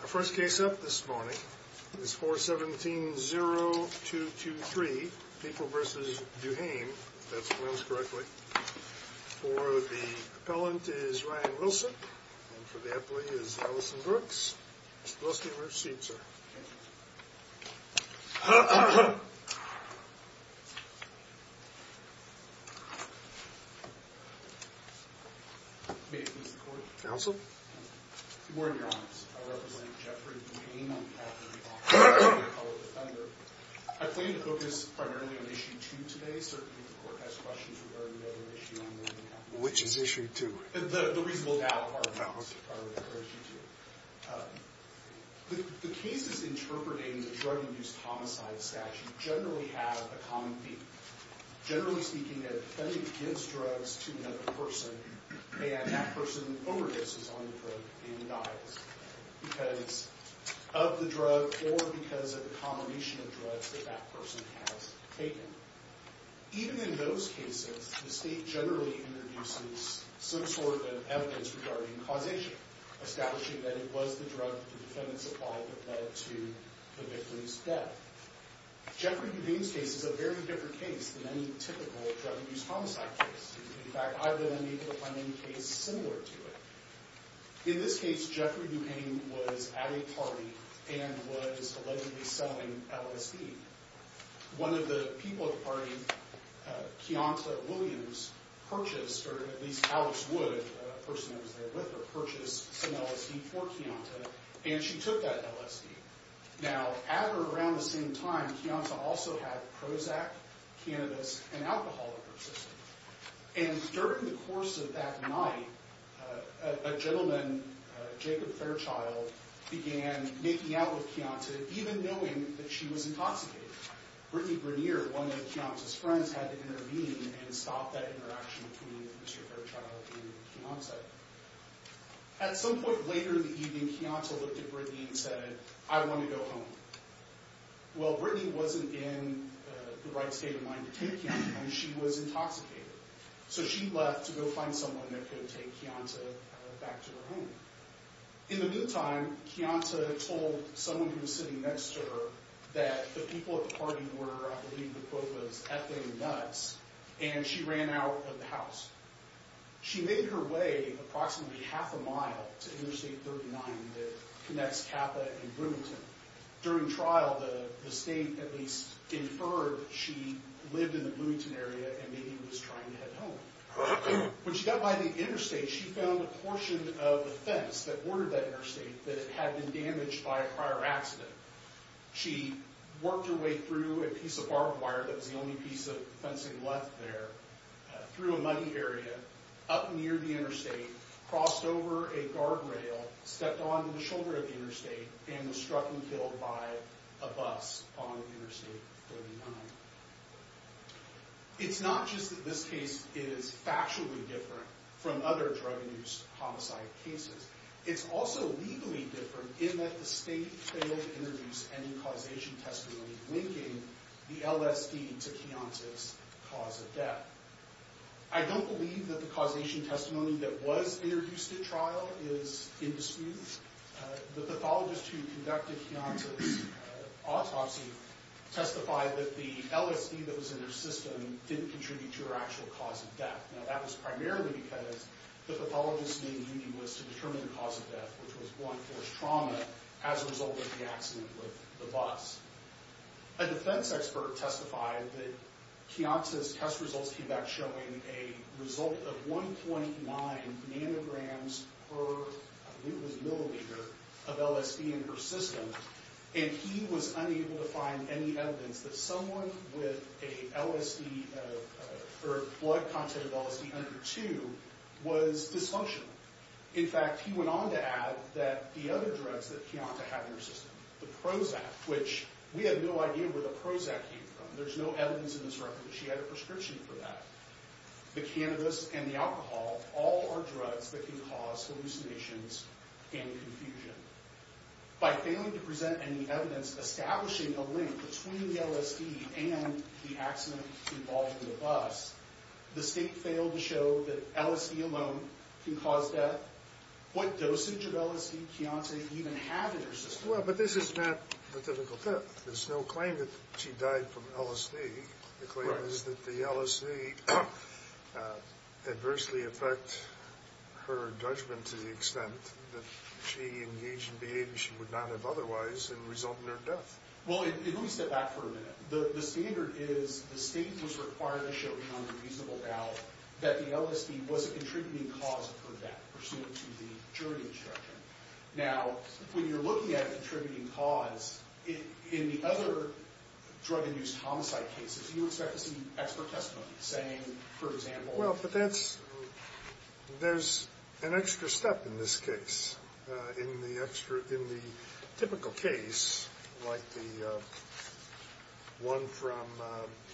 Our first case up this morning is 417-0223, People v. Duhaime, if that's pronounced correctly. For the appellant is Ryan Wilson, and for the appellee is Allison Brooks. Mr. Wilson, you may proceed, sir. Counsel? More in your honors, I represent Jeffrey Duhaime on behalf of Duhaime, an appellate defender. I plan to focus primarily on issue two today, certainly if the court has questions regarding the other issue I'm looking at. Which is issue two? The reasonable doubt, I would encourage you to. The cases interpreting the drug abuse homicide statute generally have a common theme. Generally speaking, a defendant gives drugs to another person, and that person overdoses on the drug and dies. Because of the drug or because of the combination of drugs that that person has taken. Even in those cases, the state generally introduces some sort of evidence regarding causation. Establishing that it was the drug the defendant supplied that led to the victim's death. Jeffrey Duhaime's case is a very different case than any typical drug abuse homicide case. In fact, I've been able to find many cases similar to it. In this case, Jeffrey Duhaime was at a party and was allegedly selling LSD. One of the people at the party, Keonta Williams, purchased, or at least Alex Wood, a person that was there with her, purchased some LSD for Keonta. And she took that LSD. Now, at or around the same time, Keonta also had Prozac, cannabis, and alcohol in her system. And during the course of that night, a gentleman, Jacob Fairchild, began making out with Keonta, even knowing that she was intoxicated. Brittany Brunier, one of Keonta's friends, had to intervene and stop that interaction between Mr. Fairchild and Keonta. At some point later in the evening, Keonta looked at Brittany and said, I want to go home. Well, Brittany wasn't in the right state of mind to take Keonta, and she was intoxicated. So she left to go find someone that could take Keonta back to her home. In the meantime, Keonta told someone who was sitting next to her that the people at the party were, I believe the quote was, effing nuts, and she ran out of the house. She made her way approximately half a mile to Interstate 39 that connects Kappa and Bloomington. During trial, the state at least inferred that she lived in the Bloomington area and maybe was trying to head home. When she got by the interstate, she found a portion of the fence that bordered that interstate that had been damaged by a prior accident. She worked her way through a piece of barbed wire that was the only piece of fencing left there, through a muddy area, up near the interstate, crossed over a guardrail, stepped onto the shoulder of the interstate, and was struck and killed by a bus on Interstate 39. It's not just that this case is factually different from other drug-induced homicide cases. It's also legally different in that the state failed to introduce any causation testimony linking the LSD to Keonta's cause of death. I don't believe that the causation testimony that was introduced at trial is indisputable. The pathologist who conducted Keonta's autopsy testified that the LSD that was in her system didn't contribute to her actual cause of death. Now, that was primarily because the pathologist's main duty was to determine the cause of death, which was blunt force trauma, as a result of the accident with the bus. A defense expert testified that Keonta's test results came back showing a result of 1.9 nanograms per, I believe it was milliliter, of LSD in her system. And he was unable to find any evidence that someone with a blood content of LSD under 2 was dysfunctional. In fact, he went on to add that the other drugs that Keonta had in her system, the Prozac, which we had no idea where the Prozac came from. There's no evidence in this record that she had a prescription for that. The cannabis and the alcohol all are drugs that can cause hallucinations and confusion. By failing to present any evidence establishing a link between the LSD and the accident involving the bus, the state failed to show that LSD alone can cause death. What dosage of LSD did Keonta even have in her system? Well, but this is not the typical thing. There's no claim that she died from LSD. The claim is that the LSD adversely affected her judgment to the extent that she engaged in behavior she would not have otherwise and resulted in her death. Well, let me step back for a minute. The standard is the state was required to show Keonta reasonable doubt that the LSD was a contributing cause of her death, pursuant to the jury instruction. Now, when you're looking at a contributing cause, in the other drug-induced homicide cases, do you expect to see expert testimony saying, for example... Well, but that's... there's an extra step in this case. In the extra... in the typical case, like the one from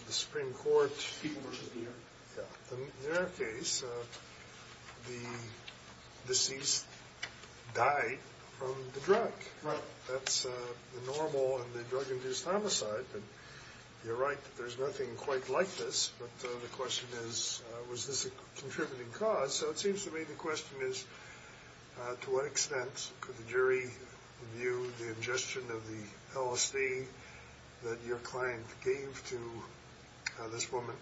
the Supreme Court... Fugler v. Meader. Yeah. In the Meader case, the deceased died from the drug. Right. That's the normal in the drug-induced homicide, but you're right, there's nothing quite like this, but the question is, was this a contributing cause? So it seems to me the question is, to what extent could the jury view the ingestion of the LSD that your client gave to this woman,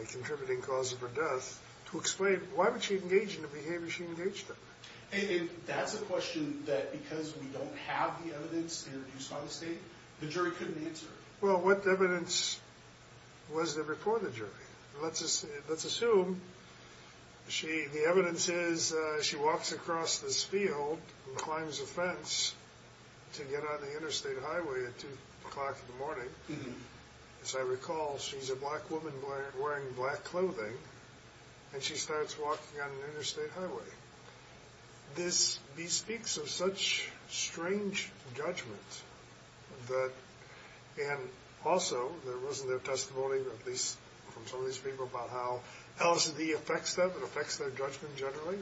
a contributing cause of her death, to explain why would she engage in the behavior she engaged in? That's a question that, because we don't have the evidence to be reduced by the state, the jury couldn't answer. Well, what evidence was there before the jury? Let's assume the evidence is she walks across this field and climbs a fence to get on the interstate highway at 2 o'clock in the morning. As I recall, she's a black woman wearing black clothing, and she starts walking on an interstate highway. This bespeaks of such strange judgment that, and also there wasn't a testimony, at least from some of these people, about how LSD affects them, it affects their judgment generally.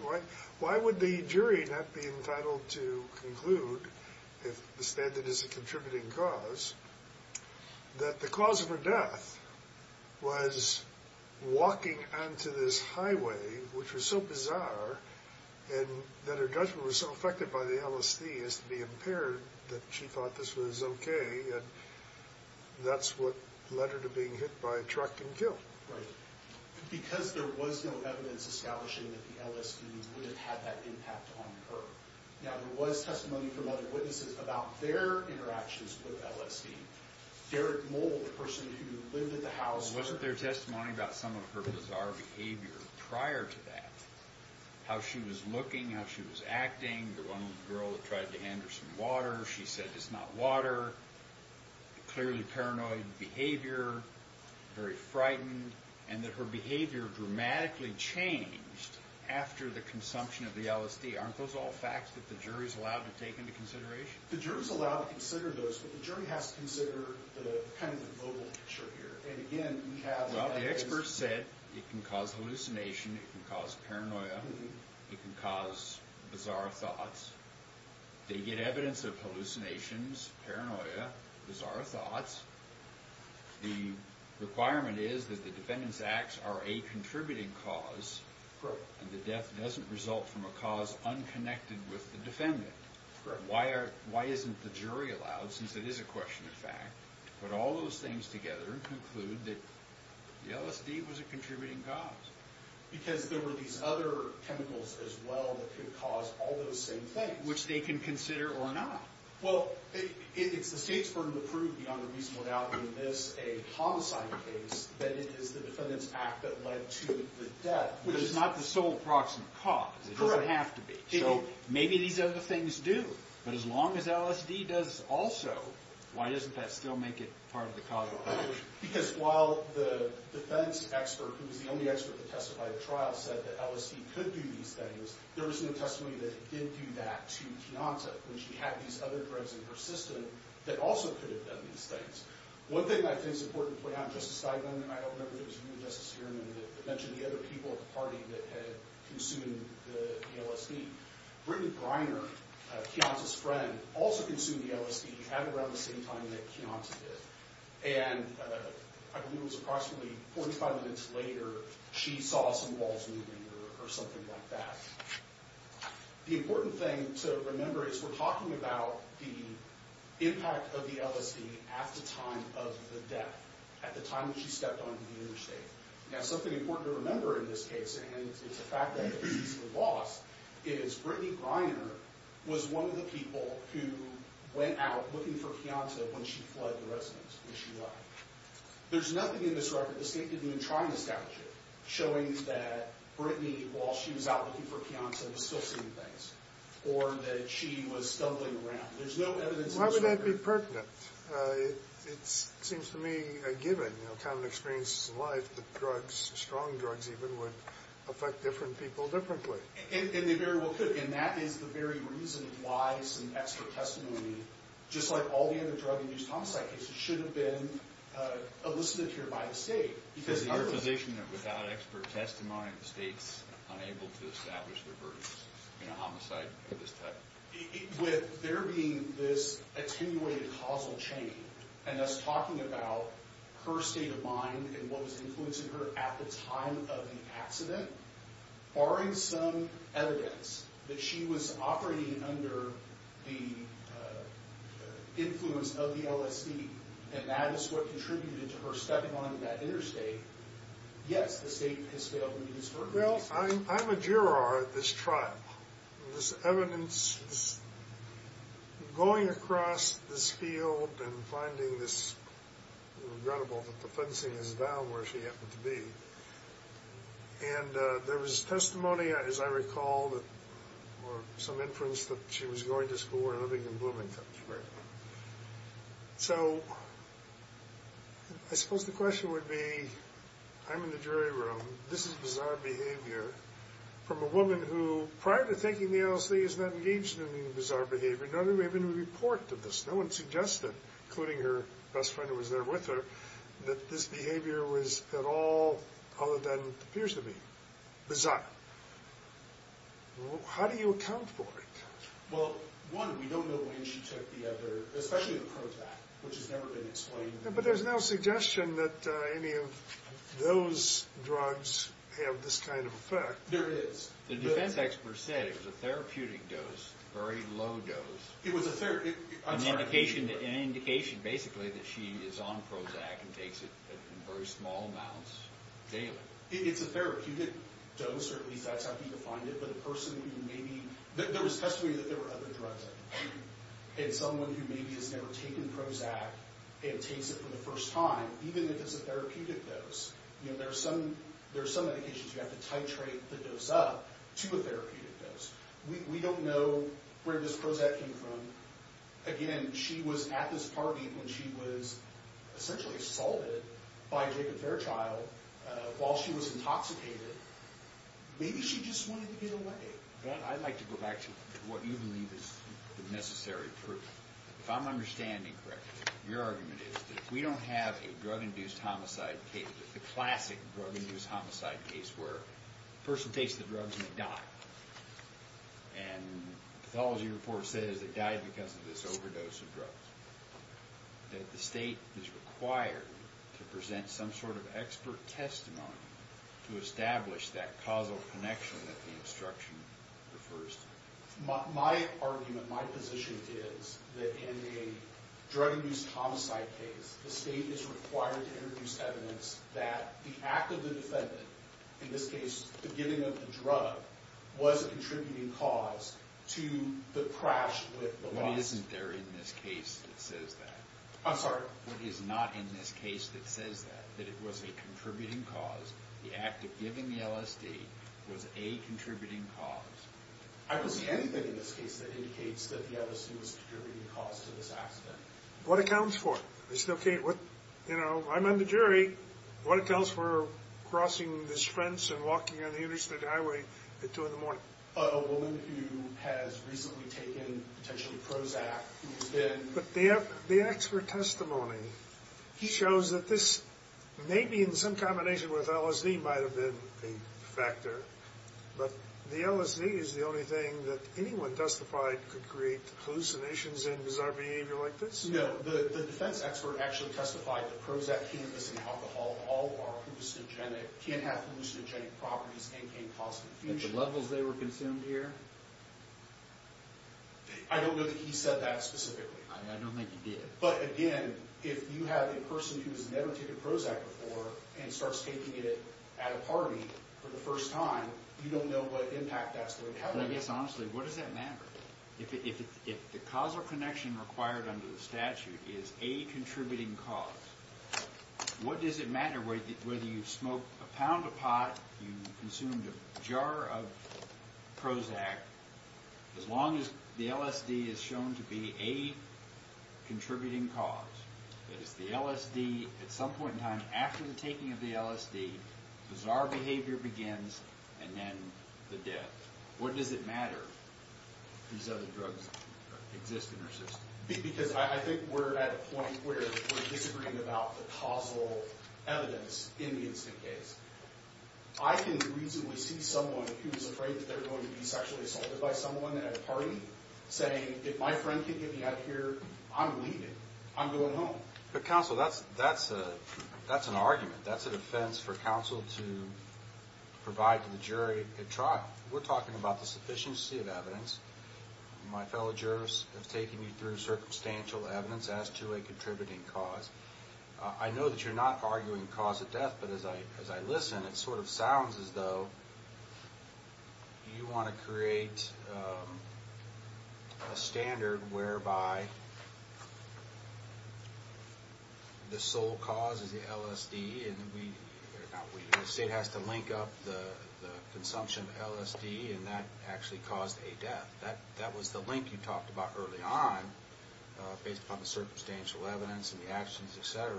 Why would the jury not be entitled to conclude, if the standard is a contributing cause, that the cause of her death was walking onto this highway, which was so bizarre, and that her judgment was so affected by the LSD as to be impaired, that she thought this was okay, and that's what led her to being hit by a truck and killed. Right. Because there was no evidence establishing that the LSD would have had that impact on her. Now, there was testimony from other witnesses about their interactions with LSD. Wasn't there testimony about some of her bizarre behavior prior to that? How she was looking, how she was acting, the one girl that tried to hand her some water, she said, it's not water. Clearly paranoid behavior, very frightened, and that her behavior dramatically changed after the consumption of the LSD. Aren't those all facts that the jury's allowed to take into consideration? The jury's allowed to consider those, but the jury has to consider kind of the global picture here. Well, the experts said it can cause hallucination, it can cause paranoia, it can cause bizarre thoughts. They get evidence of hallucinations, paranoia, bizarre thoughts. The requirement is that the defendant's acts are a contributing cause, and the death doesn't result from a cause unconnected with the defendant. Why isn't the jury allowed, since it is a question of fact, to put all those things together and conclude that the LSD was a contributing cause? Because there were these other chemicals as well that could cause all those same things. Which they can consider or not. Well, it's the state's burden to prove beyond a reasonable doubt in this a homicide case that it is the defendant's act that led to the death. But it's not the sole proximate cause. It doesn't have to be. So maybe these other things do. But as long as LSD does also, why doesn't that still make it part of the causal conclusion? Because while the defense expert, who was the only expert that testified at trial, said that LSD could do these things, there was no testimony that it did do that to Kianta when she had these other drugs in her system that also could have done these things. One thing that I think is important to point out, Justice Steigman, and I don't remember if it was you or Justice Heuermann, that mentioned the other people at the party that had consumed the LSD. Brittany Greiner, Kianta's friend, also consumed the LSD at around the same time that Kianta did. And I believe it was approximately 45 minutes later, she saw some walls moving or something like that. The important thing to remember is we're talking about the impact of the LSD at the time of the death, at the time that she stepped onto the interstate. Now, something important to remember in this case, and it's a fact that it's easily lost, is Brittany Greiner was one of the people who went out looking for Kianta when she fled the residence where she lay. There's nothing in this record, the state didn't even try and establish it, showing that Brittany, while she was out looking for Kianta, was still seeing things, or that she was stumbling around. There's no evidence in this record. Why would that be pertinent? It seems to me a given, you know, common experiences in life, that drugs, strong drugs even, would affect different people differently. And they very well could, and that is the very reason why some extra testimony, just like all the other drug abuse homicide cases, should have been elicited here by the state. Is it your position that without expert testimony, the state's unable to establish their verdicts in a homicide of this type? With there being this attenuated causal chain, and us talking about her state of mind and what was influencing her at the time of the accident, barring some evidence that she was operating under the influence of the LSD, and that is what contributed to her stepping on that interstate, yes, the state has failed to disperse it. Well, I'm a juror at this trial. This evidence, going across this field and finding this, regrettable, but the fencing is down where she happened to be. And there was testimony, as I recall, or some inference, that she was going to school and living in Bloomington. Right. So, I suppose the question would be, I'm in the jury room. This is bizarre behavior from a woman who, prior to taking the LSD, is not engaged in any bizarre behavior, nor do we have any report of this. No one suggested, including her best friend who was there with her, that this behavior was at all other than what appears to be bizarre. How do you account for it? Well, one, we don't know when she took the other, especially the Prozac, which has never been explained. But there's no suggestion that any of those drugs have this kind of effect. There is. The defense experts said it was a therapeutic dose, a very low dose. It was a therapeutic dose. An indication, basically, that she is on Prozac and takes it in very small amounts daily. It's a therapeutic dose, or at least that's how people find it. There was testimony that there were other drugs in it, and someone who maybe has never taken Prozac and takes it for the first time, even if it's a therapeutic dose. There are some medications you have to titrate the dose up to a therapeutic dose. We don't know where this Prozac came from. Again, she was at this party when she was essentially assaulted by Jacob Fairchild while she was intoxicated. Maybe she just wanted to get away. I'd like to go back to what you believe is the necessary proof. If I'm understanding correctly, your argument is that we don't have a drug-induced homicide case, the classic drug-induced homicide case where a person takes the drugs and they die. And the pathology report says they died because of this overdose of drugs. That the state is required to present some sort of expert testimony to establish that causal connection that the instruction refers to. My argument, my position is that in a drug-induced homicide case, the state is required to introduce evidence that the act of the defendant, in this case the giving of the drug, was a contributing cause to the crash with the body. What isn't there in this case that says that? I'm sorry? What is not in this case that says that, that it was a contributing cause, the act of giving the LSD was a contributing cause? I don't see anything in this case that indicates that the LSD was a contributing cause to this accident. What accounts for it? You know, I'm on the jury. What accounts for crossing this fence and walking on the Interstate Highway at 2 in the morning? A woman who has recently taken potentially Prozac, who has been... But the expert testimony shows that this, maybe in some combination with LSD, might have been a factor. But the LSD is the only thing that anyone testified could create hallucinations and bizarre behavior like this? No, the defense expert actually testified that Prozac, cannabis, and alcohol all are hallucinogenic, can have hallucinogenic properties, and can cause confusion. The levels they were consumed here? I don't know that he said that specifically. I don't think he did. But again, if you have a person who has never taken Prozac before and starts taking it at a party for the first time, you don't know what impact that's going to have. I guess, honestly, what does that matter? If the causal connection required under the statute is a contributing cause, what does it matter whether you smoked a pound of pot, you consumed a jar of Prozac, as long as the LSD is shown to be a contributing cause? That is, the LSD, at some point in time, after the taking of the LSD, bizarre behavior begins, and then the death. What does it matter if these other drugs exist in our system? Because I think we're at a point where we're disagreeing about the causal evidence in the incident case. I can reasonably see someone who's afraid that they're going to be sexually assaulted by someone at a party saying, if my friend can't get me out of here, I'm leaving. I'm going home. But, counsel, that's an argument. That's a defense for counsel to provide to the jury at trial. We're talking about the sufficiency of evidence. My fellow jurors have taken you through circumstantial evidence as to a contributing cause. I know that you're not arguing cause of death, but as I listen, it sort of sounds as though you want to create a standard whereby the sole cause is the LSD, and the state has to link up the consumption of LSD, and that actually caused a death. That was the link you talked about early on, based upon the circumstantial evidence and the actions, et cetera,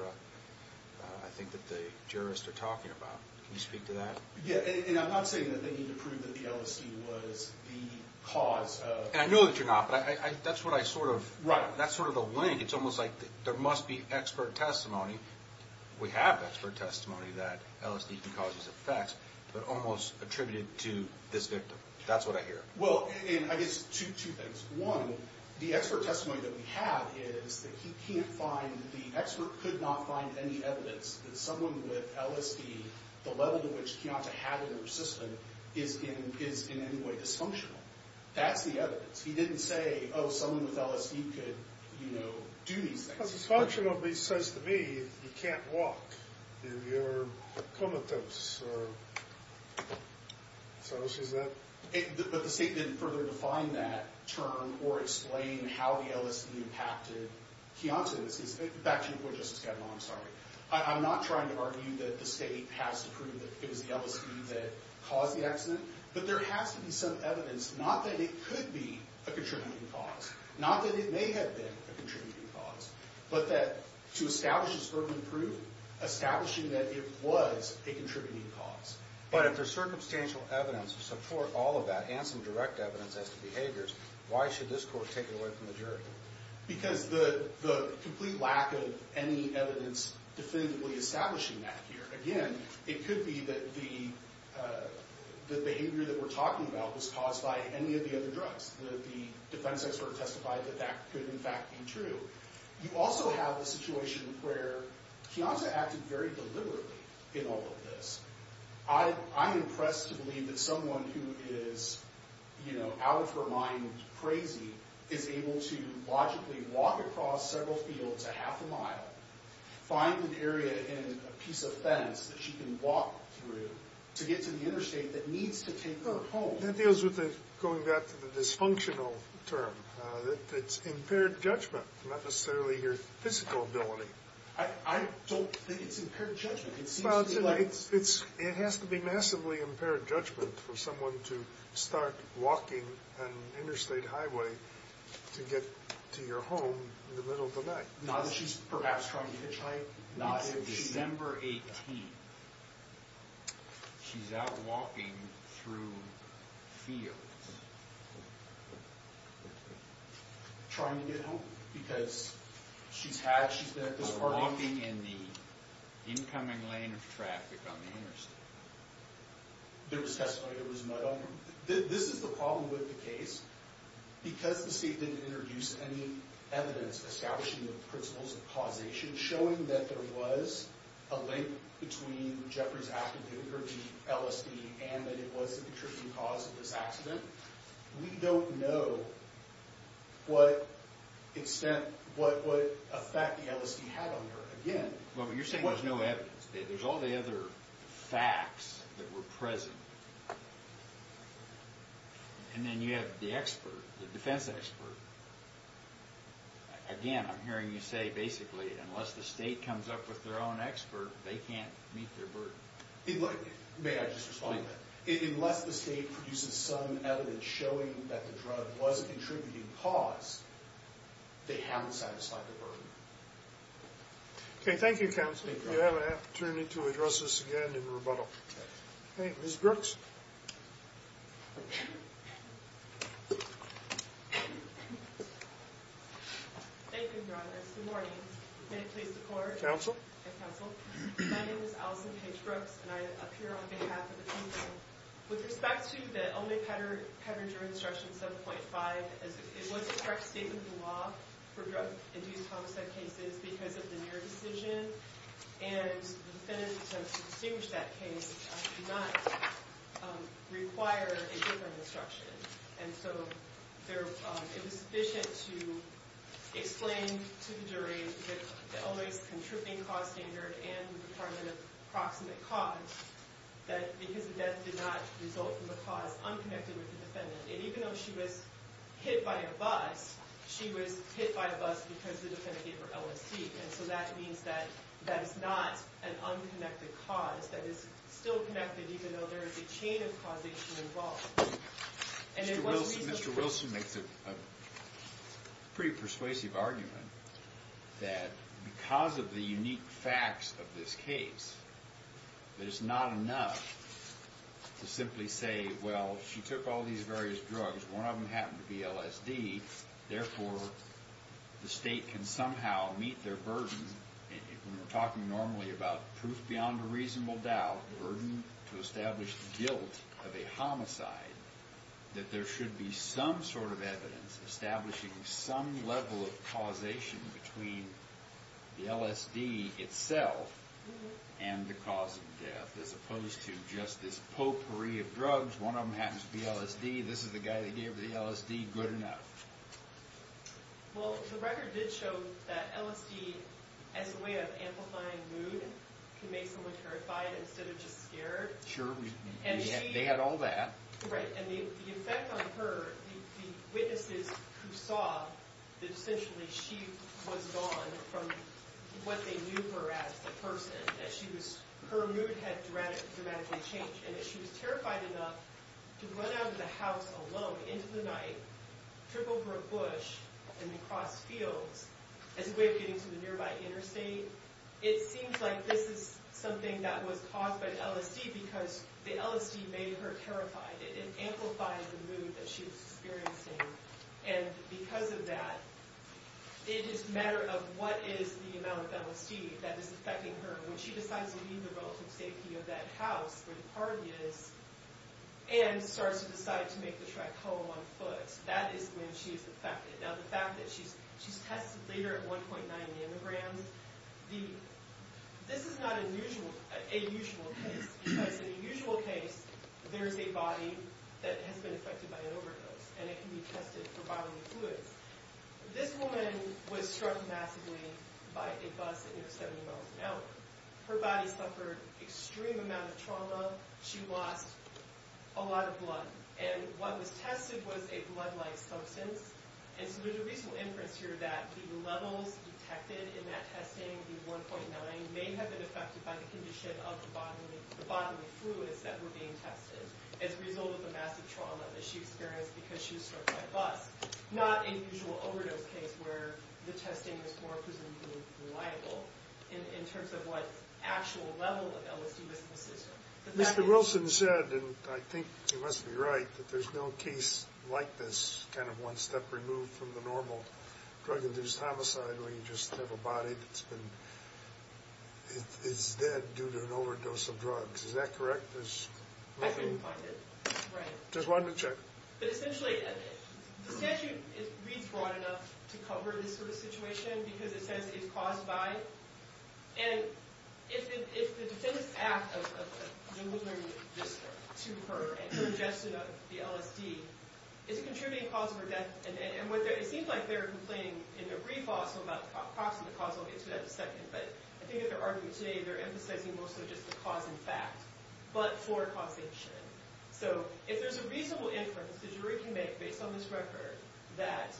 I think that the jurists are talking about. Can you speak to that? Yeah, and I'm not saying that they need to prove that the LSD was the cause of... And I know that you're not, but that's what I sort of... Right. That's sort of the link. It's almost like there must be expert testimony. We have expert testimony that LSD can cause these effects, but almost attributed to this victim. That's what I hear. Well, and I guess two things. One, the expert testimony that we have is that he can't find, the expert could not find any evidence that someone with LSD, the level at which he ought to have it in their system, is in any way dysfunctional. That's the evidence. He didn't say, oh, someone with LSD could, you know, do these things. Well, dysfunctional at least says to me you can't walk. You're comatose, or... Is that what she said? But the state didn't further define that term or explain how the LSD impacted Keontes. Back to your point, Justice Kavanaugh, I'm sorry. I'm not trying to argue that the state has to prove that it was the LSD that caused the accident, but there has to be some evidence, not that it could be a contributing cause, not that it may have been a contributing cause, but that to establish this urban proof, establishing that it was a contributing cause. But if there's circumstantial evidence to support all of that and some direct evidence as to behaviors, why should this court take it away from the jury? Because the complete lack of any evidence definitively establishing that here. Again, it could be that the behavior that we're talking about was caused by any of the other drugs, that the defense expert testified that that could in fact be true. You also have a situation where Keontes acted very deliberately in all of this. I'm impressed to believe that someone who is out of her mind crazy is able to logically walk across several fields a half a mile, find an area and a piece of fence that she can walk through to get to the interstate that needs to take her home. That deals with going back to the dysfunctional term. It's impaired judgment, not necessarily your physical ability. I don't think it's impaired judgment. It has to be massively impaired judgment for someone to start walking an interstate highway to get to your home in the middle of the night. Not that she's perhaps trying to hitchhike. No, it's December 18th. She's out walking through fields. Trying to get home because she's been at this party. Walking in the incoming lane of traffic on the interstate. There was testimony, there was mud on her. This is the problem with the case. Because the state didn't introduce any evidence establishing the principles of causation, showing that there was a link between Jeffrey's activity or the LSD and that it was the contributing cause of this accident, we don't know what effect the LSD had on her. You're saying there's no evidence. There's all the other facts that were present. And then you have the expert, the defense expert. Again, I'm hearing you say basically unless the state comes up with their own expert, they can't meet their burden. May I just respond to that? Unless the state produces some evidence showing that the drug was a contributing cause, they haven't satisfied the burden. Okay, thank you, Counsel. We'll have an opportunity to address this again in rebuttal. Okay, Ms. Brooks. Thank you, Your Honor. Good morning. May it please the Court. Counsel. Yes, Counsel. My name is Allison Paige Brooks and I appear on behalf of the people. With respect to the Olney-Pettinger Instruction 7.5, it was a correct statement of the law for drug-induced homicide cases because of the near decision and the defendants have distinguished that case do not require a different instruction. And so it was sufficient to explain to the jury that the Olney's contributing cause standard and the requirement of proximate cause, that because the death did not result from a cause unconnected with the defendant. And even though she was hit by a bus, she was hit by a bus because the defendant gave her LSD. And so that means that that is not an unconnected cause that is still connected even though there is a chain of causation involved. Mr. Wilson makes a pretty persuasive argument that because of the unique facts of this case, that it's not enough to simply say, well, she took all these various drugs, one of them happened to be LSD, therefore the state can somehow meet their burden. And when we're talking normally about proof beyond a reasonable doubt, the burden to establish guilt of a homicide, that there should be some sort of evidence establishing some level of causation between the LSD itself and the cause of death, as opposed to just this potpourri of drugs, one of them happens to be LSD, this is the guy that gave her the LSD, good enough. Well, the record did show that LSD, as a way of amplifying mood, can make someone terrified instead of just scared. Sure, they had all that. Right, and the effect on her, the witnesses who saw that essentially she was gone from what they knew her as, the person, that her mood had dramatically changed and that she was terrified enough to run out of the house alone into the night, trip over a bush and then cross fields as a way of getting to the nearby interstate, it seems like this is something that was caused by LSD because the LSD made her terrified, it amplified the mood that she was experiencing and because of that, it is a matter of what is the amount of LSD that is affecting her when she decides to leave the relative safety of that house where the party is and starts to decide to make the trek home on foot, that is when she is affected. Now, the fact that she's tested later at 1.9 nanograms, this is not a usual case because in a usual case, there is a body that has been affected by an overdose and it can be tested for bodily fluids. This woman was struck massively by a bus at near 70 miles an hour. Her body suffered extreme amount of trauma. She lost a lot of blood and what was tested was a blood-like substance and so there's a reasonable inference here that the levels detected in that testing, the 1.9 may have been affected by the condition of the bodily fluids that were being tested as a result of the massive trauma that she experienced because she was struck by a bus, not a usual overdose case where the testing was more presumably reliable in terms of what actual level of LSD was in the system. Mr. Wilson said, and I think he must be right, that there's no case like this, kind of one step removed from the normal drug-induced homicide where you just have a body that's been... is dead due to an overdose of drugs. Is that correct? I couldn't find it. Just wanted to check. But essentially, the statute reads broad enough to cover this sort of situation because it says it's caused by and if the defendant's act of delivering this to her and her ingestion of the LSD is contributing to the cause of her death and it seems like they're complaining in their brief also about causing the cause of her death and I'll get to that in a second. But I think if they're arguing today, they're emphasizing mostly just the cause in fact but for causation. So if there's a reasonable inference the jury can make based on this record that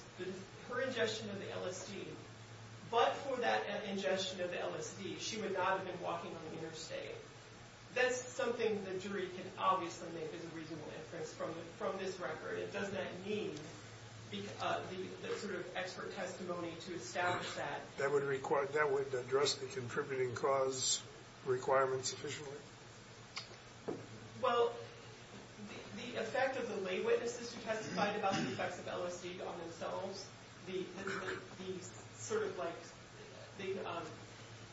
her ingestion of the LSD, but for that ingestion of the LSD, she would not have been walking on the interstate, that's something the jury can obviously make as a reasonable inference from this record. Does that need the sort of expert testimony to establish that? That would address the contributing cause requirements efficiently? Well, the effect of the lay witnesses who testified about the effects of LSD on themselves, the sort of like the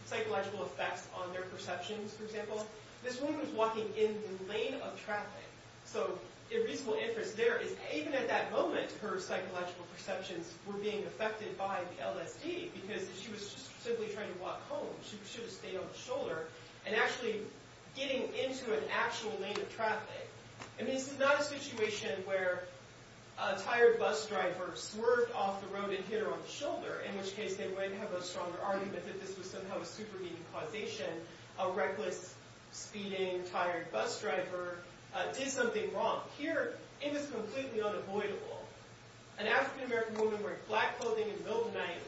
psychological effects on their perceptions, for example, this woman was walking in the lane of traffic. So a reasonable inference there is even at that moment her psychological perceptions were being affected by the LSD because she was simply trying to walk home. She should have stayed on the shoulder and actually getting into an actual lane of traffic. And this is not a situation where a tired bus driver swerved off the road and hit her on the shoulder in which case they might have a stronger argument that this was somehow a supermedia causation. A reckless, speeding, tired bus driver did something wrong. Here, it was completely unavoidable. An African-American woman wearing black clothing in the middle of the night,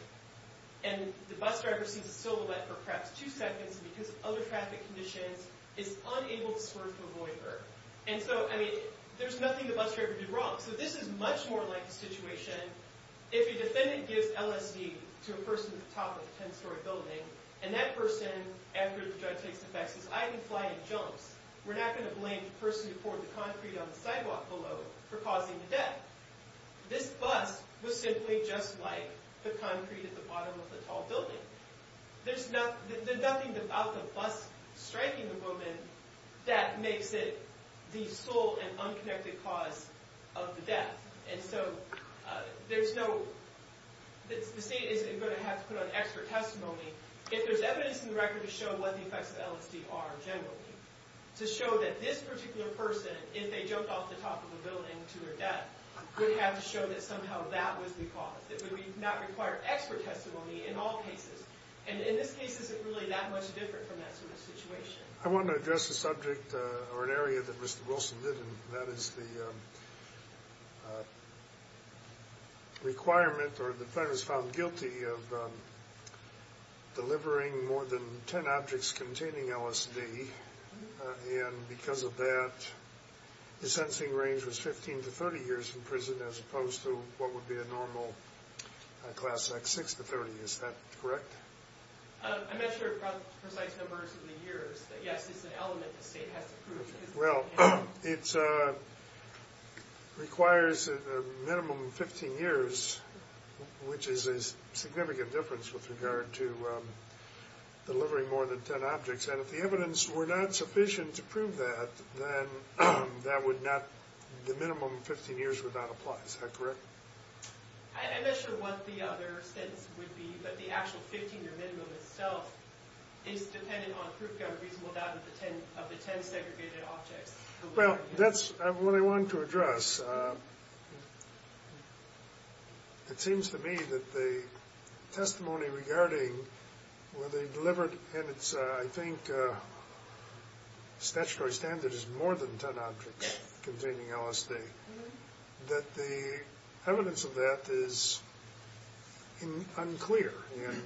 and the bus driver sees a silhouette for perhaps two seconds because of other traffic conditions, is unable to swerve to avoid her. And so, I mean, there's nothing the bus driver did wrong. So this is much more like the situation if a defendant gives LSD to a person at the top of a 10-story building, and that person, after the judge takes the facts, says, I didn't fly any jumps, we're not going to blame the person who poured the concrete on the sidewalk below for causing the death. This bus was simply just like the concrete at the bottom of a tall building. There's nothing about the bus striking a woman that makes it the sole and unconnected cause of the death. And so, there's no... The state isn't going to have to put on expert testimony if there's evidence in the record to show what the effects of LSD are, generally. To show that this particular person, if they jumped off the top of a building to their death, would have to show that somehow that was the cause. It would not require expert testimony in all cases. And in this case, it's really that much different from that sort of situation. I want to address a subject, or an area, that Mr. Wilson did, and that is the requirement, or the plaintiff's found guilty, of delivering more than 10 objects containing LSD. And because of that, the sensing range was 15 to 30 years in prison, as opposed to what would be a normal class act 6 to 30. Is that correct? I measured precise numbers in the years. Yes, it's an element the state has to prove. Well, it requires a minimum of 15 years, which is a significant difference with regard to delivering more than 10 objects. And if the evidence were not sufficient to prove that, then that would not, the minimum of 15 years would not apply. Is that correct? I'm not sure what the other sentence would be, but the actual 15-year minimum itself is dependent on proof that a reasonable doubt of the 10 segregated objects. Well, that's what I wanted to address. It seems to me that the testimony regarding whether he delivered, and it's, I think, statutory standard is more than 10 objects containing LSD, that the evidence of that is unclear. And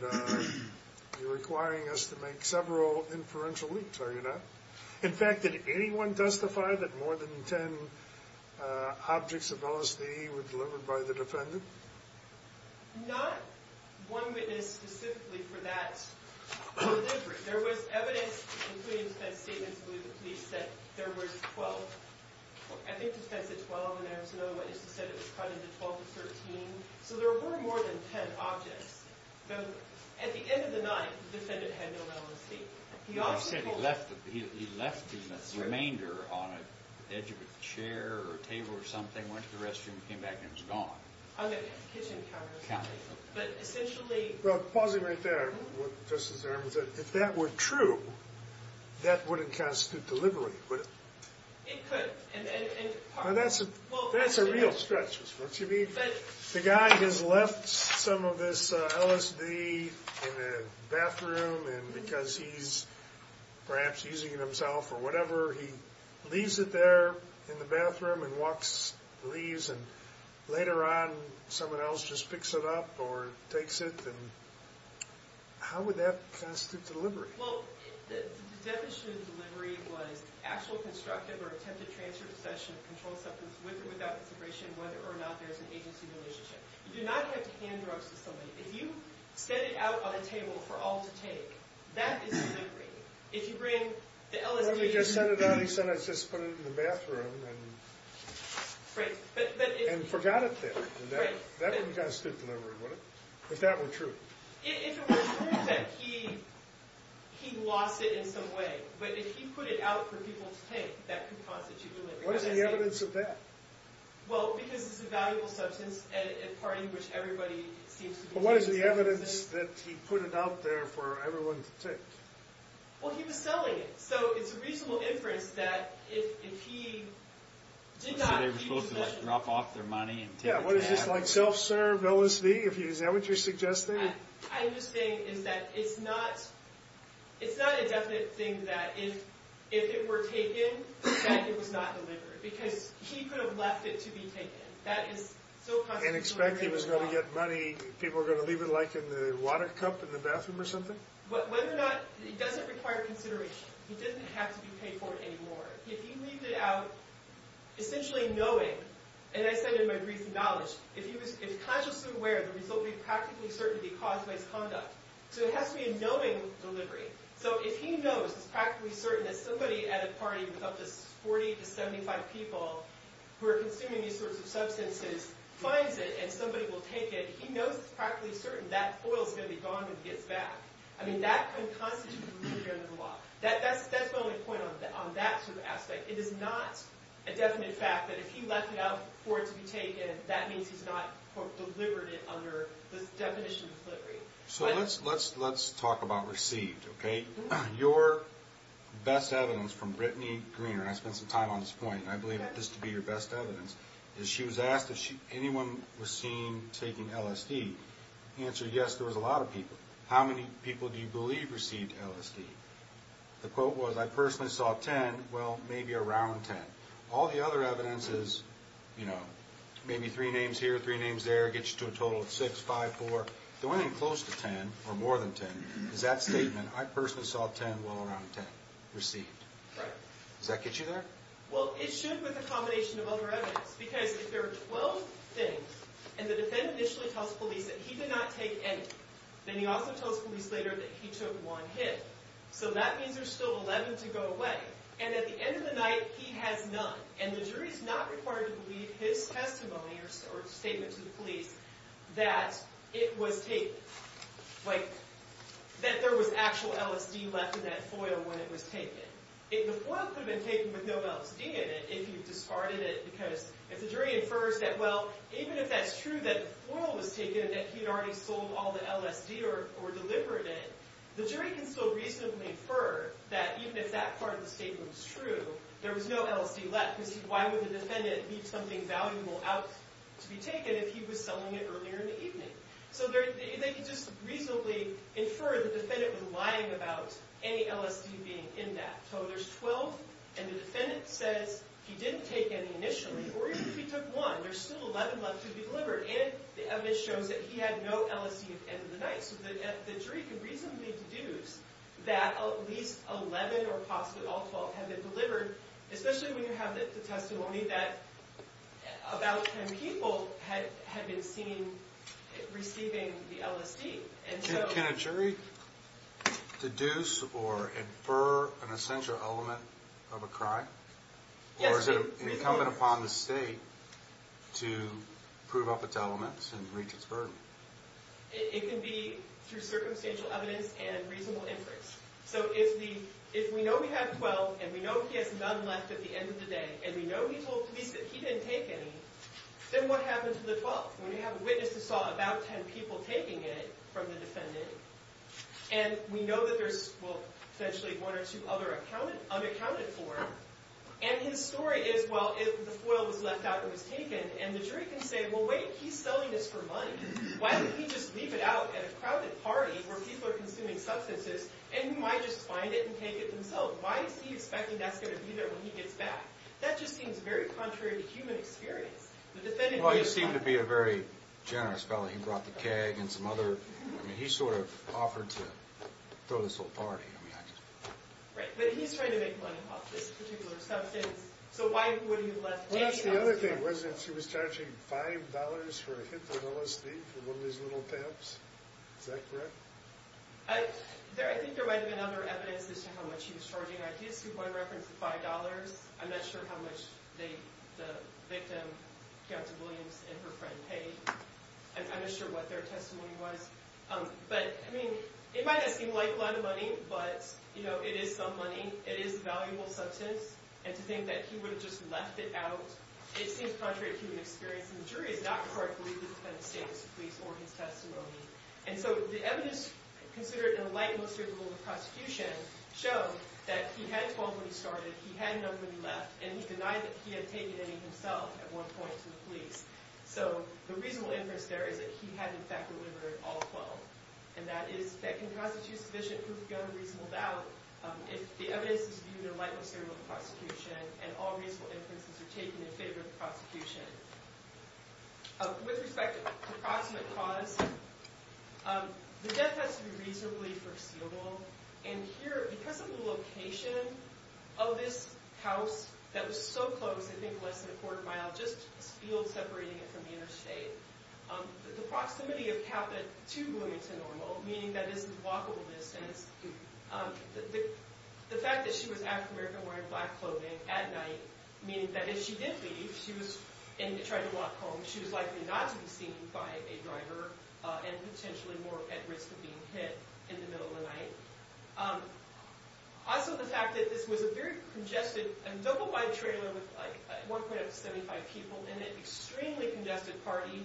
you're requiring us to make several inferential leaps, are you not? In fact, did anyone testify that more than 10 objects of LSD were delivered by the defendant? Not one witness specifically for that delivery. There was evidence, including defense statements, believe the police, that there was 12. I think the defense said 12, and there was another witness that said it was cut into 12 to 13. So there were more than 10 objects. At the end of the night, the defendant had no LSD. He left the remainder on the edge of a chair or a table or something, went to the restroom, came back, and it was gone. On the kitchen counter. But essentially... Well, pausing right there, Justice Zerman, if that were true, that wouldn't constitute delivery, would it? It could. That's a real stretch. What you mean? The guy has left some of this LSD in the bathroom, and because he's perhaps using it himself or whatever, he leaves it there in the bathroom and walks, leaves, and later on, someone else just picks it up or takes it. How would that constitute delivery? Well, the definition of delivery was actual constructive or attempted transfer of possession of a controlled substance with or without consideration of whether or not there is an agency relationship. You do not have to hand drugs to somebody. If you set it out on a table for all to take, that is delivery. If you bring the LSD... If you set it out, he said, let's just put it in the bathroom and forgot it there. That wouldn't constitute delivery, would it? If that were true. If it were true, then he lost it in some way. But if he put it out for people to take, that could constitute delivery. What is the evidence of that? Well, because it's a valuable substance and a part in which everybody seems to be... But what is the evidence that he put it out there for everyone to take? Well, he was selling it. So it's a reasonable inference that if he did not... So they were supposed to drop off their money... Yeah, what is this, like self-serve LSD? Is that what you're suggesting? I'm just saying is that it's not a definite thing that if it were taken, that it was not delivered. Because he could have left it to be taken. And expect he was going to get money... People were going to leave it, like, in the water cup in the bathroom or something? Whether or not... It doesn't require consideration. It doesn't have to be paid for anymore. If he leaves it out, essentially knowing... And I said in my brief knowledge, if he was consciously aware, the result would be practically certain that he caused misconduct. So it has to be a knowing delivery. So if he knows it's practically certain that somebody at a party with up to 40 to 75 people who are consuming these sorts of substances finds it and somebody will take it, he knows it's practically certain that oil's going to be gone when he gets back. I mean, that could constitute delivery under the law. That's my only point on that sort of aspect. It is not a definite fact that if he left it out for it to be taken, that means he's not delivered it under the definition of delivery. So let's talk about received, okay? Your best evidence from Brittany Greener, and I spent some time on this point, and I believe this to be your best evidence, is she was asked if anyone was seen taking LSD. The answer, yes, there was a lot of people. How many people do you believe received LSD? The quote was, I personally saw 10, well, maybe around 10. All the other evidence is, you know, maybe three names here, three names there, gets you to a total of 6, 5, 4. The one thing close to 10, or more than 10, is that statement, I personally saw 10, well, around 10, received. Does that get you there? Well, it should with a combination of other evidence, because if there are 12 things and the defendant initially tells police that he did not take any, then he also tells police later that he took one hit. So that means there's still 11 to go away, and at the end of the night, he has none, and the jury's not required to believe his testimony or statement to the police that it was taken, like that there was actual LSD left in that foil when it was taken. The foil could have been taken with no LSD in it if you discarded it, because if the jury infers that, well, even if that's true that the foil was taken and he'd already sold all the LSD or delivered it, the jury can still reasonably infer that even if that part of the statement was true, there was no LSD left, because why would the defendant leave something valuable out to be taken if he was selling it earlier in the evening? So they can just reasonably infer the defendant was lying about any LSD being in that. So there's 12, and the defendant says he didn't take any initially, or even if he took one, there's still 11 left to be delivered, and the evidence shows that he had no LSD at the end of the night, so the jury can reasonably deduce that at least 11 or possibly all 12 had been delivered, especially when you have the testimony that about 10 people had been seen receiving the LSD. Can a jury deduce or infer an essential element of a crime? Yes. Or is it incumbent upon the state to prove up its elements and reach its burden? It can be through circumstantial evidence and reasonable inference. So if we know we have 12, and we know he has none left at the end of the day, and we know he told police that he didn't take any, then what happened to the 12? When you have a witness who saw about 10 people taking it from the defendant, and we know that there's, well, potentially one or two other unaccounted for, and his story is, well, the foil was left out and was taken, and the jury can say, well, wait, he's selling this for money. Why didn't he just leave it out at a crowded party where people are consuming substances, and he might just find it and take it himself? Why is he expecting that's going to be there when he gets back? That just seems very contrary to human experience. Well, he seemed to be a very generous fellow. He brought the keg and some other... I mean, he sort of offered to throw this whole party. Right, but he's trying to make money off this particular substance, so why would he have left any of it out? Well, that's the other thing, wasn't it? She was charging $5 for a hit to the nose, I think, for one of his little pimps. Is that correct? I think there might have been other evidence as to how much she was charging. I did see one reference to $5. I'm not sure how much the victim, Captain Williams, and her friend paid. I'm not sure what their testimony was. But, I mean, it might not seem like a lot of money, but, you know, it is some money. It is a valuable substance, and to think that he would have just left it out, it seems contrary to human experience. And the jury is not required to believe that it's been a statement to the police or his testimony. And so the evidence considered in a light, most favorable rule of prosecution showed that he had 12 when he started, he had none when he left, and he denied that he had taken any himself at one point to the police. So the reasonable inference there is that he had, in fact, delivered all 12. And that can constitute sufficient proof to go to reasonable doubt if the evidence is viewed in a light, most favorable rule of prosecution and all reasonable inferences are taken in favor of the prosecution. With respect to approximate cause, the death has to be reasonably foreseeable. And here, because of the location of this house that was so close, I think less than a quarter mile, just a field separating it from the interstate, the proximity of Capit to Williamton Normal, meaning that this is walkable distance. The fact that she was African-American wearing black clothing at night, meaning that if she did leave, and tried to walk home, she was likely not to be seen by a driver and potentially more at risk of being hit in the middle of the night. Also the fact that this was a very congested, double-wide trailer with 1.75 people in it, extremely congested party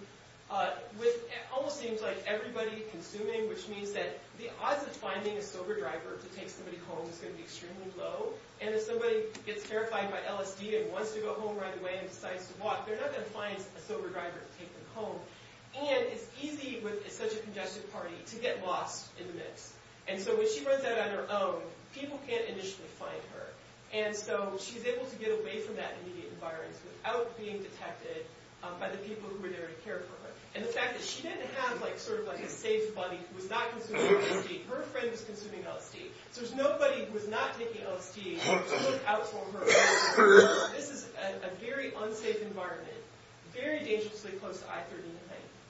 with, it almost seems like everybody consuming, which means that the odds of finding a sober driver to take somebody home is going to be extremely low. And if somebody gets terrified by LSD and wants to go home right away and decides to walk, they're not going to find a sober driver to take them home. And it's easy with such a congested party to get lost in the mix. And so when she runs out on her own, people can't initially find her. And so she's able to get away from that immediate environs without being detected by the people who were there to care for her. And the fact that she didn't have a safe buddy who was not consuming LSD. Her friend was consuming LSD. So there's nobody who was not taking LSD to look out for her. This is a very unsafe environment, very dangerously close to I-13,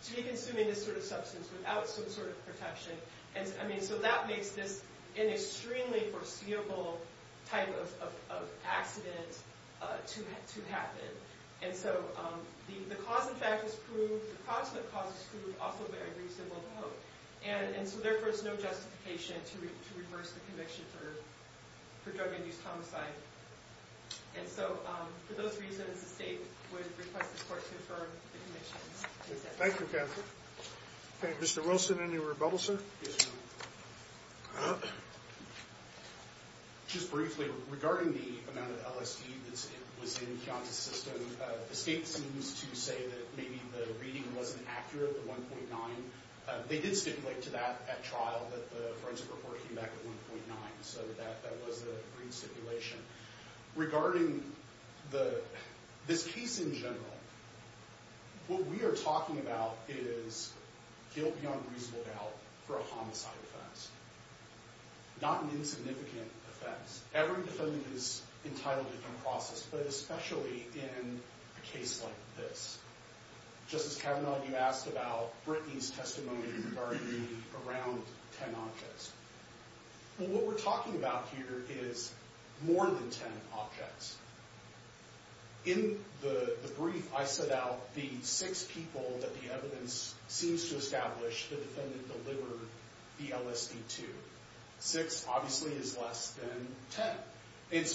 to be consuming this sort of substance without some sort of protection. And so that makes this an extremely foreseeable type of accident to happen. And so the cause, in fact, is proved, the proximate cause is proved, also very reasonable to hope. And so therefore, it's no justification to reverse the conviction for drug-induced homicide. And so for those reasons, the state would request the court to affirm the conviction. Thank you, Catherine. Mr. Wilson, any rebuttal, sir? Just briefly, regarding the amount of LSD that was in Kianta's system, the state seems to say that maybe the reading wasn't accurate, the 1.9. They did stipulate to that at trial that the forensic report came back with 1.9. So that was the agreed stipulation. Regarding this case in general, what we are talking about is guilt beyond reasonable doubt for a homicide offense, not an insignificant offense. Every defendant is entitled to due process, but especially in a case like this. Justice Kavanaugh, you asked about Brittany's testimony regarding the around 10 objects. Well, what we're talking about here is more than 10 objects. In the brief, I set out the six people that the evidence seems to establish the defendant delivered the LSD to. Six obviously is less than 10.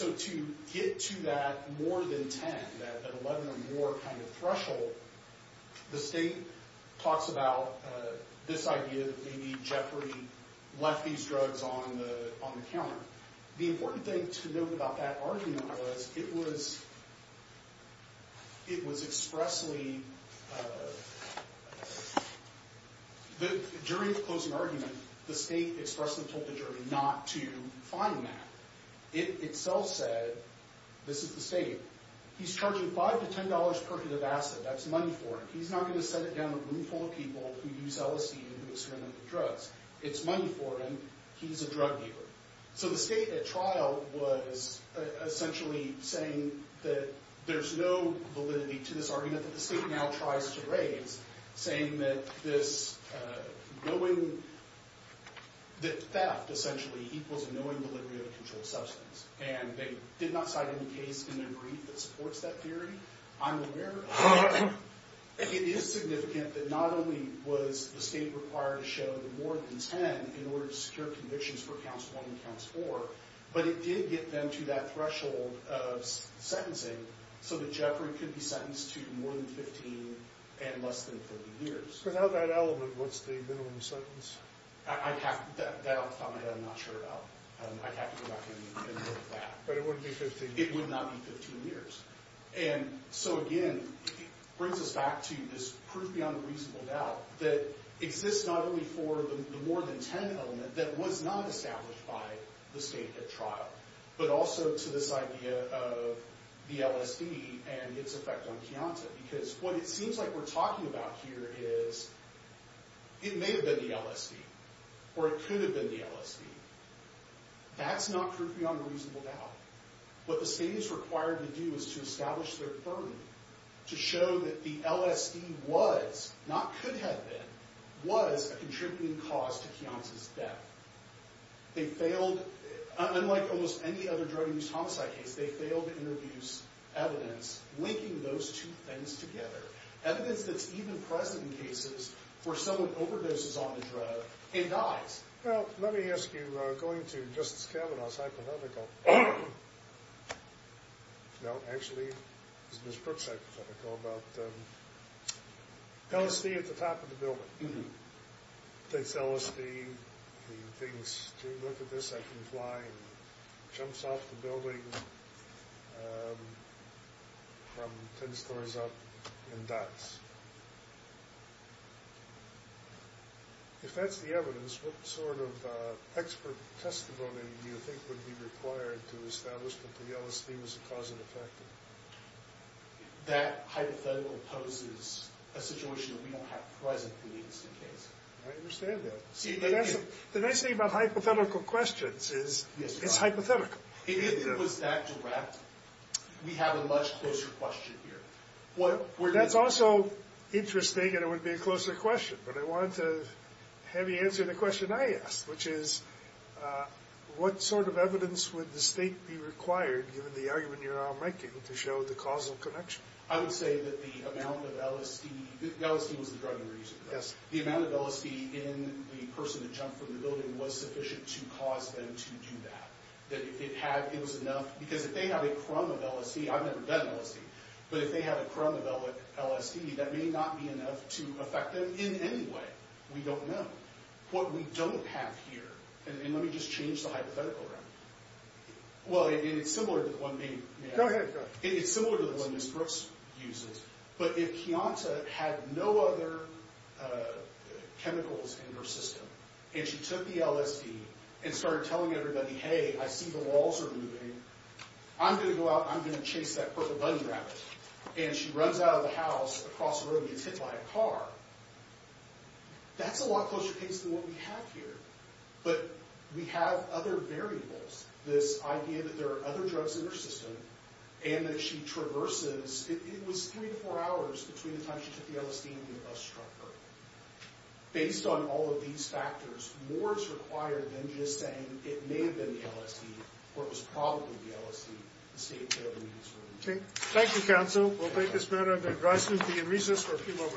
To get to that more than 10, that 11 or more threshold, the state talks about this idea that maybe Jeffrey left these drugs on the counter. The important thing to note about that argument was it was expressly during the closing argument, the state expressed and told the jury not to find that. It itself said, this is the state, he's charging $5 to $10 per can of acid. That's money for him. He's not going to send it down the room full of people who use LSD and who experiment with drugs. It's money for him. He's a drug dealer. So the state at trial was essentially saying that there's no validity to this argument that the state now tries to raise, saying that this theft essentially equals a knowing delivery of a controlled substance. They did not cite any case in their brief that supports that theory. I'm aware of that. It is significant that not only was the state required to show the more than 10 in order to secure convictions for counts one and four, but it did get them to that threshold of sentencing so that Jeffrey could be sentenced to more than 15 and less than 30 years. Without that element, what's the minimum sentence? That I'm not sure about. I'd have to go back and look at that. It would not be 15 years. And so again, it brings us back to this proof beyond reasonable doubt that exists not only for the more than 10 element that was not established by the state at trial, but also to this idea of the LSD and its effect on Keonta. Because what it seems like we're talking about here is it may have been the LSD or it could have been the LSD. That's not proof beyond reasonable doubt. What the state is required to do is to establish their firm to show that the LSD was, not could have been, was a contributing cause to Keonta's death. They failed unlike almost any other drug abuse homicide case, they failed to introduce evidence linking those two things together. Evidence that's even present in cases where someone overdoses on the drug and dies. Well, let me ask you, going to Justice Kavanaugh's hypothetical. No, actually it was Ms. Brooks' hypothetical about LSD at the top of the building. They tell us the things, if you look at this, I can fly and it jumps off the building from ten stories up and dies. If that's the evidence, what sort of expert testimony do you think would be required to establish that the LSD was a cause and effect? That hypothetical poses a situation that we don't have presently in this new case. I understand that. See, the nice thing about hypothetical questions is it's hypothetical. If it was that direct, we have a much closer question here. That's also interesting and it would be a closer question, but I wanted to have you answer the question I asked, which is what sort of evidence would the state be required, given the argument you're all making, to show the causal connection? I would say that the amount of LSD, LSD was the drug of the reason. The amount of LSD in the person that jumped from the building was sufficient to cause them to do that. It was enough because if they have a crumb of LSD, I've never done LSD, but if they have a crumb of LSD, that may not be enough to affect them in any way. We don't know. What we don't have here, and let me just change the hypothetical around here. It's similar to the one Ms. Brooks uses, but if Kianta had no other chemicals in her system, and she took the LSD and started telling everybody, hey, I see the walls are moving, I'm going to go out and I'm going to chase that purple bunny rabbit, and she runs out of the house across the road and gets hit by a car, that's a lot closer case than what we have here, but we have other variables. This idea that there are other drugs in her system and that she traverses, it was three to four hours between the time she took the LSD and the bus truck. Based on all of these factors, more is required than just saying it may have been the LSD, or it was probably the LSD. Thank you, counsel. We'll take this matter under advice and be in recess for a few more minutes.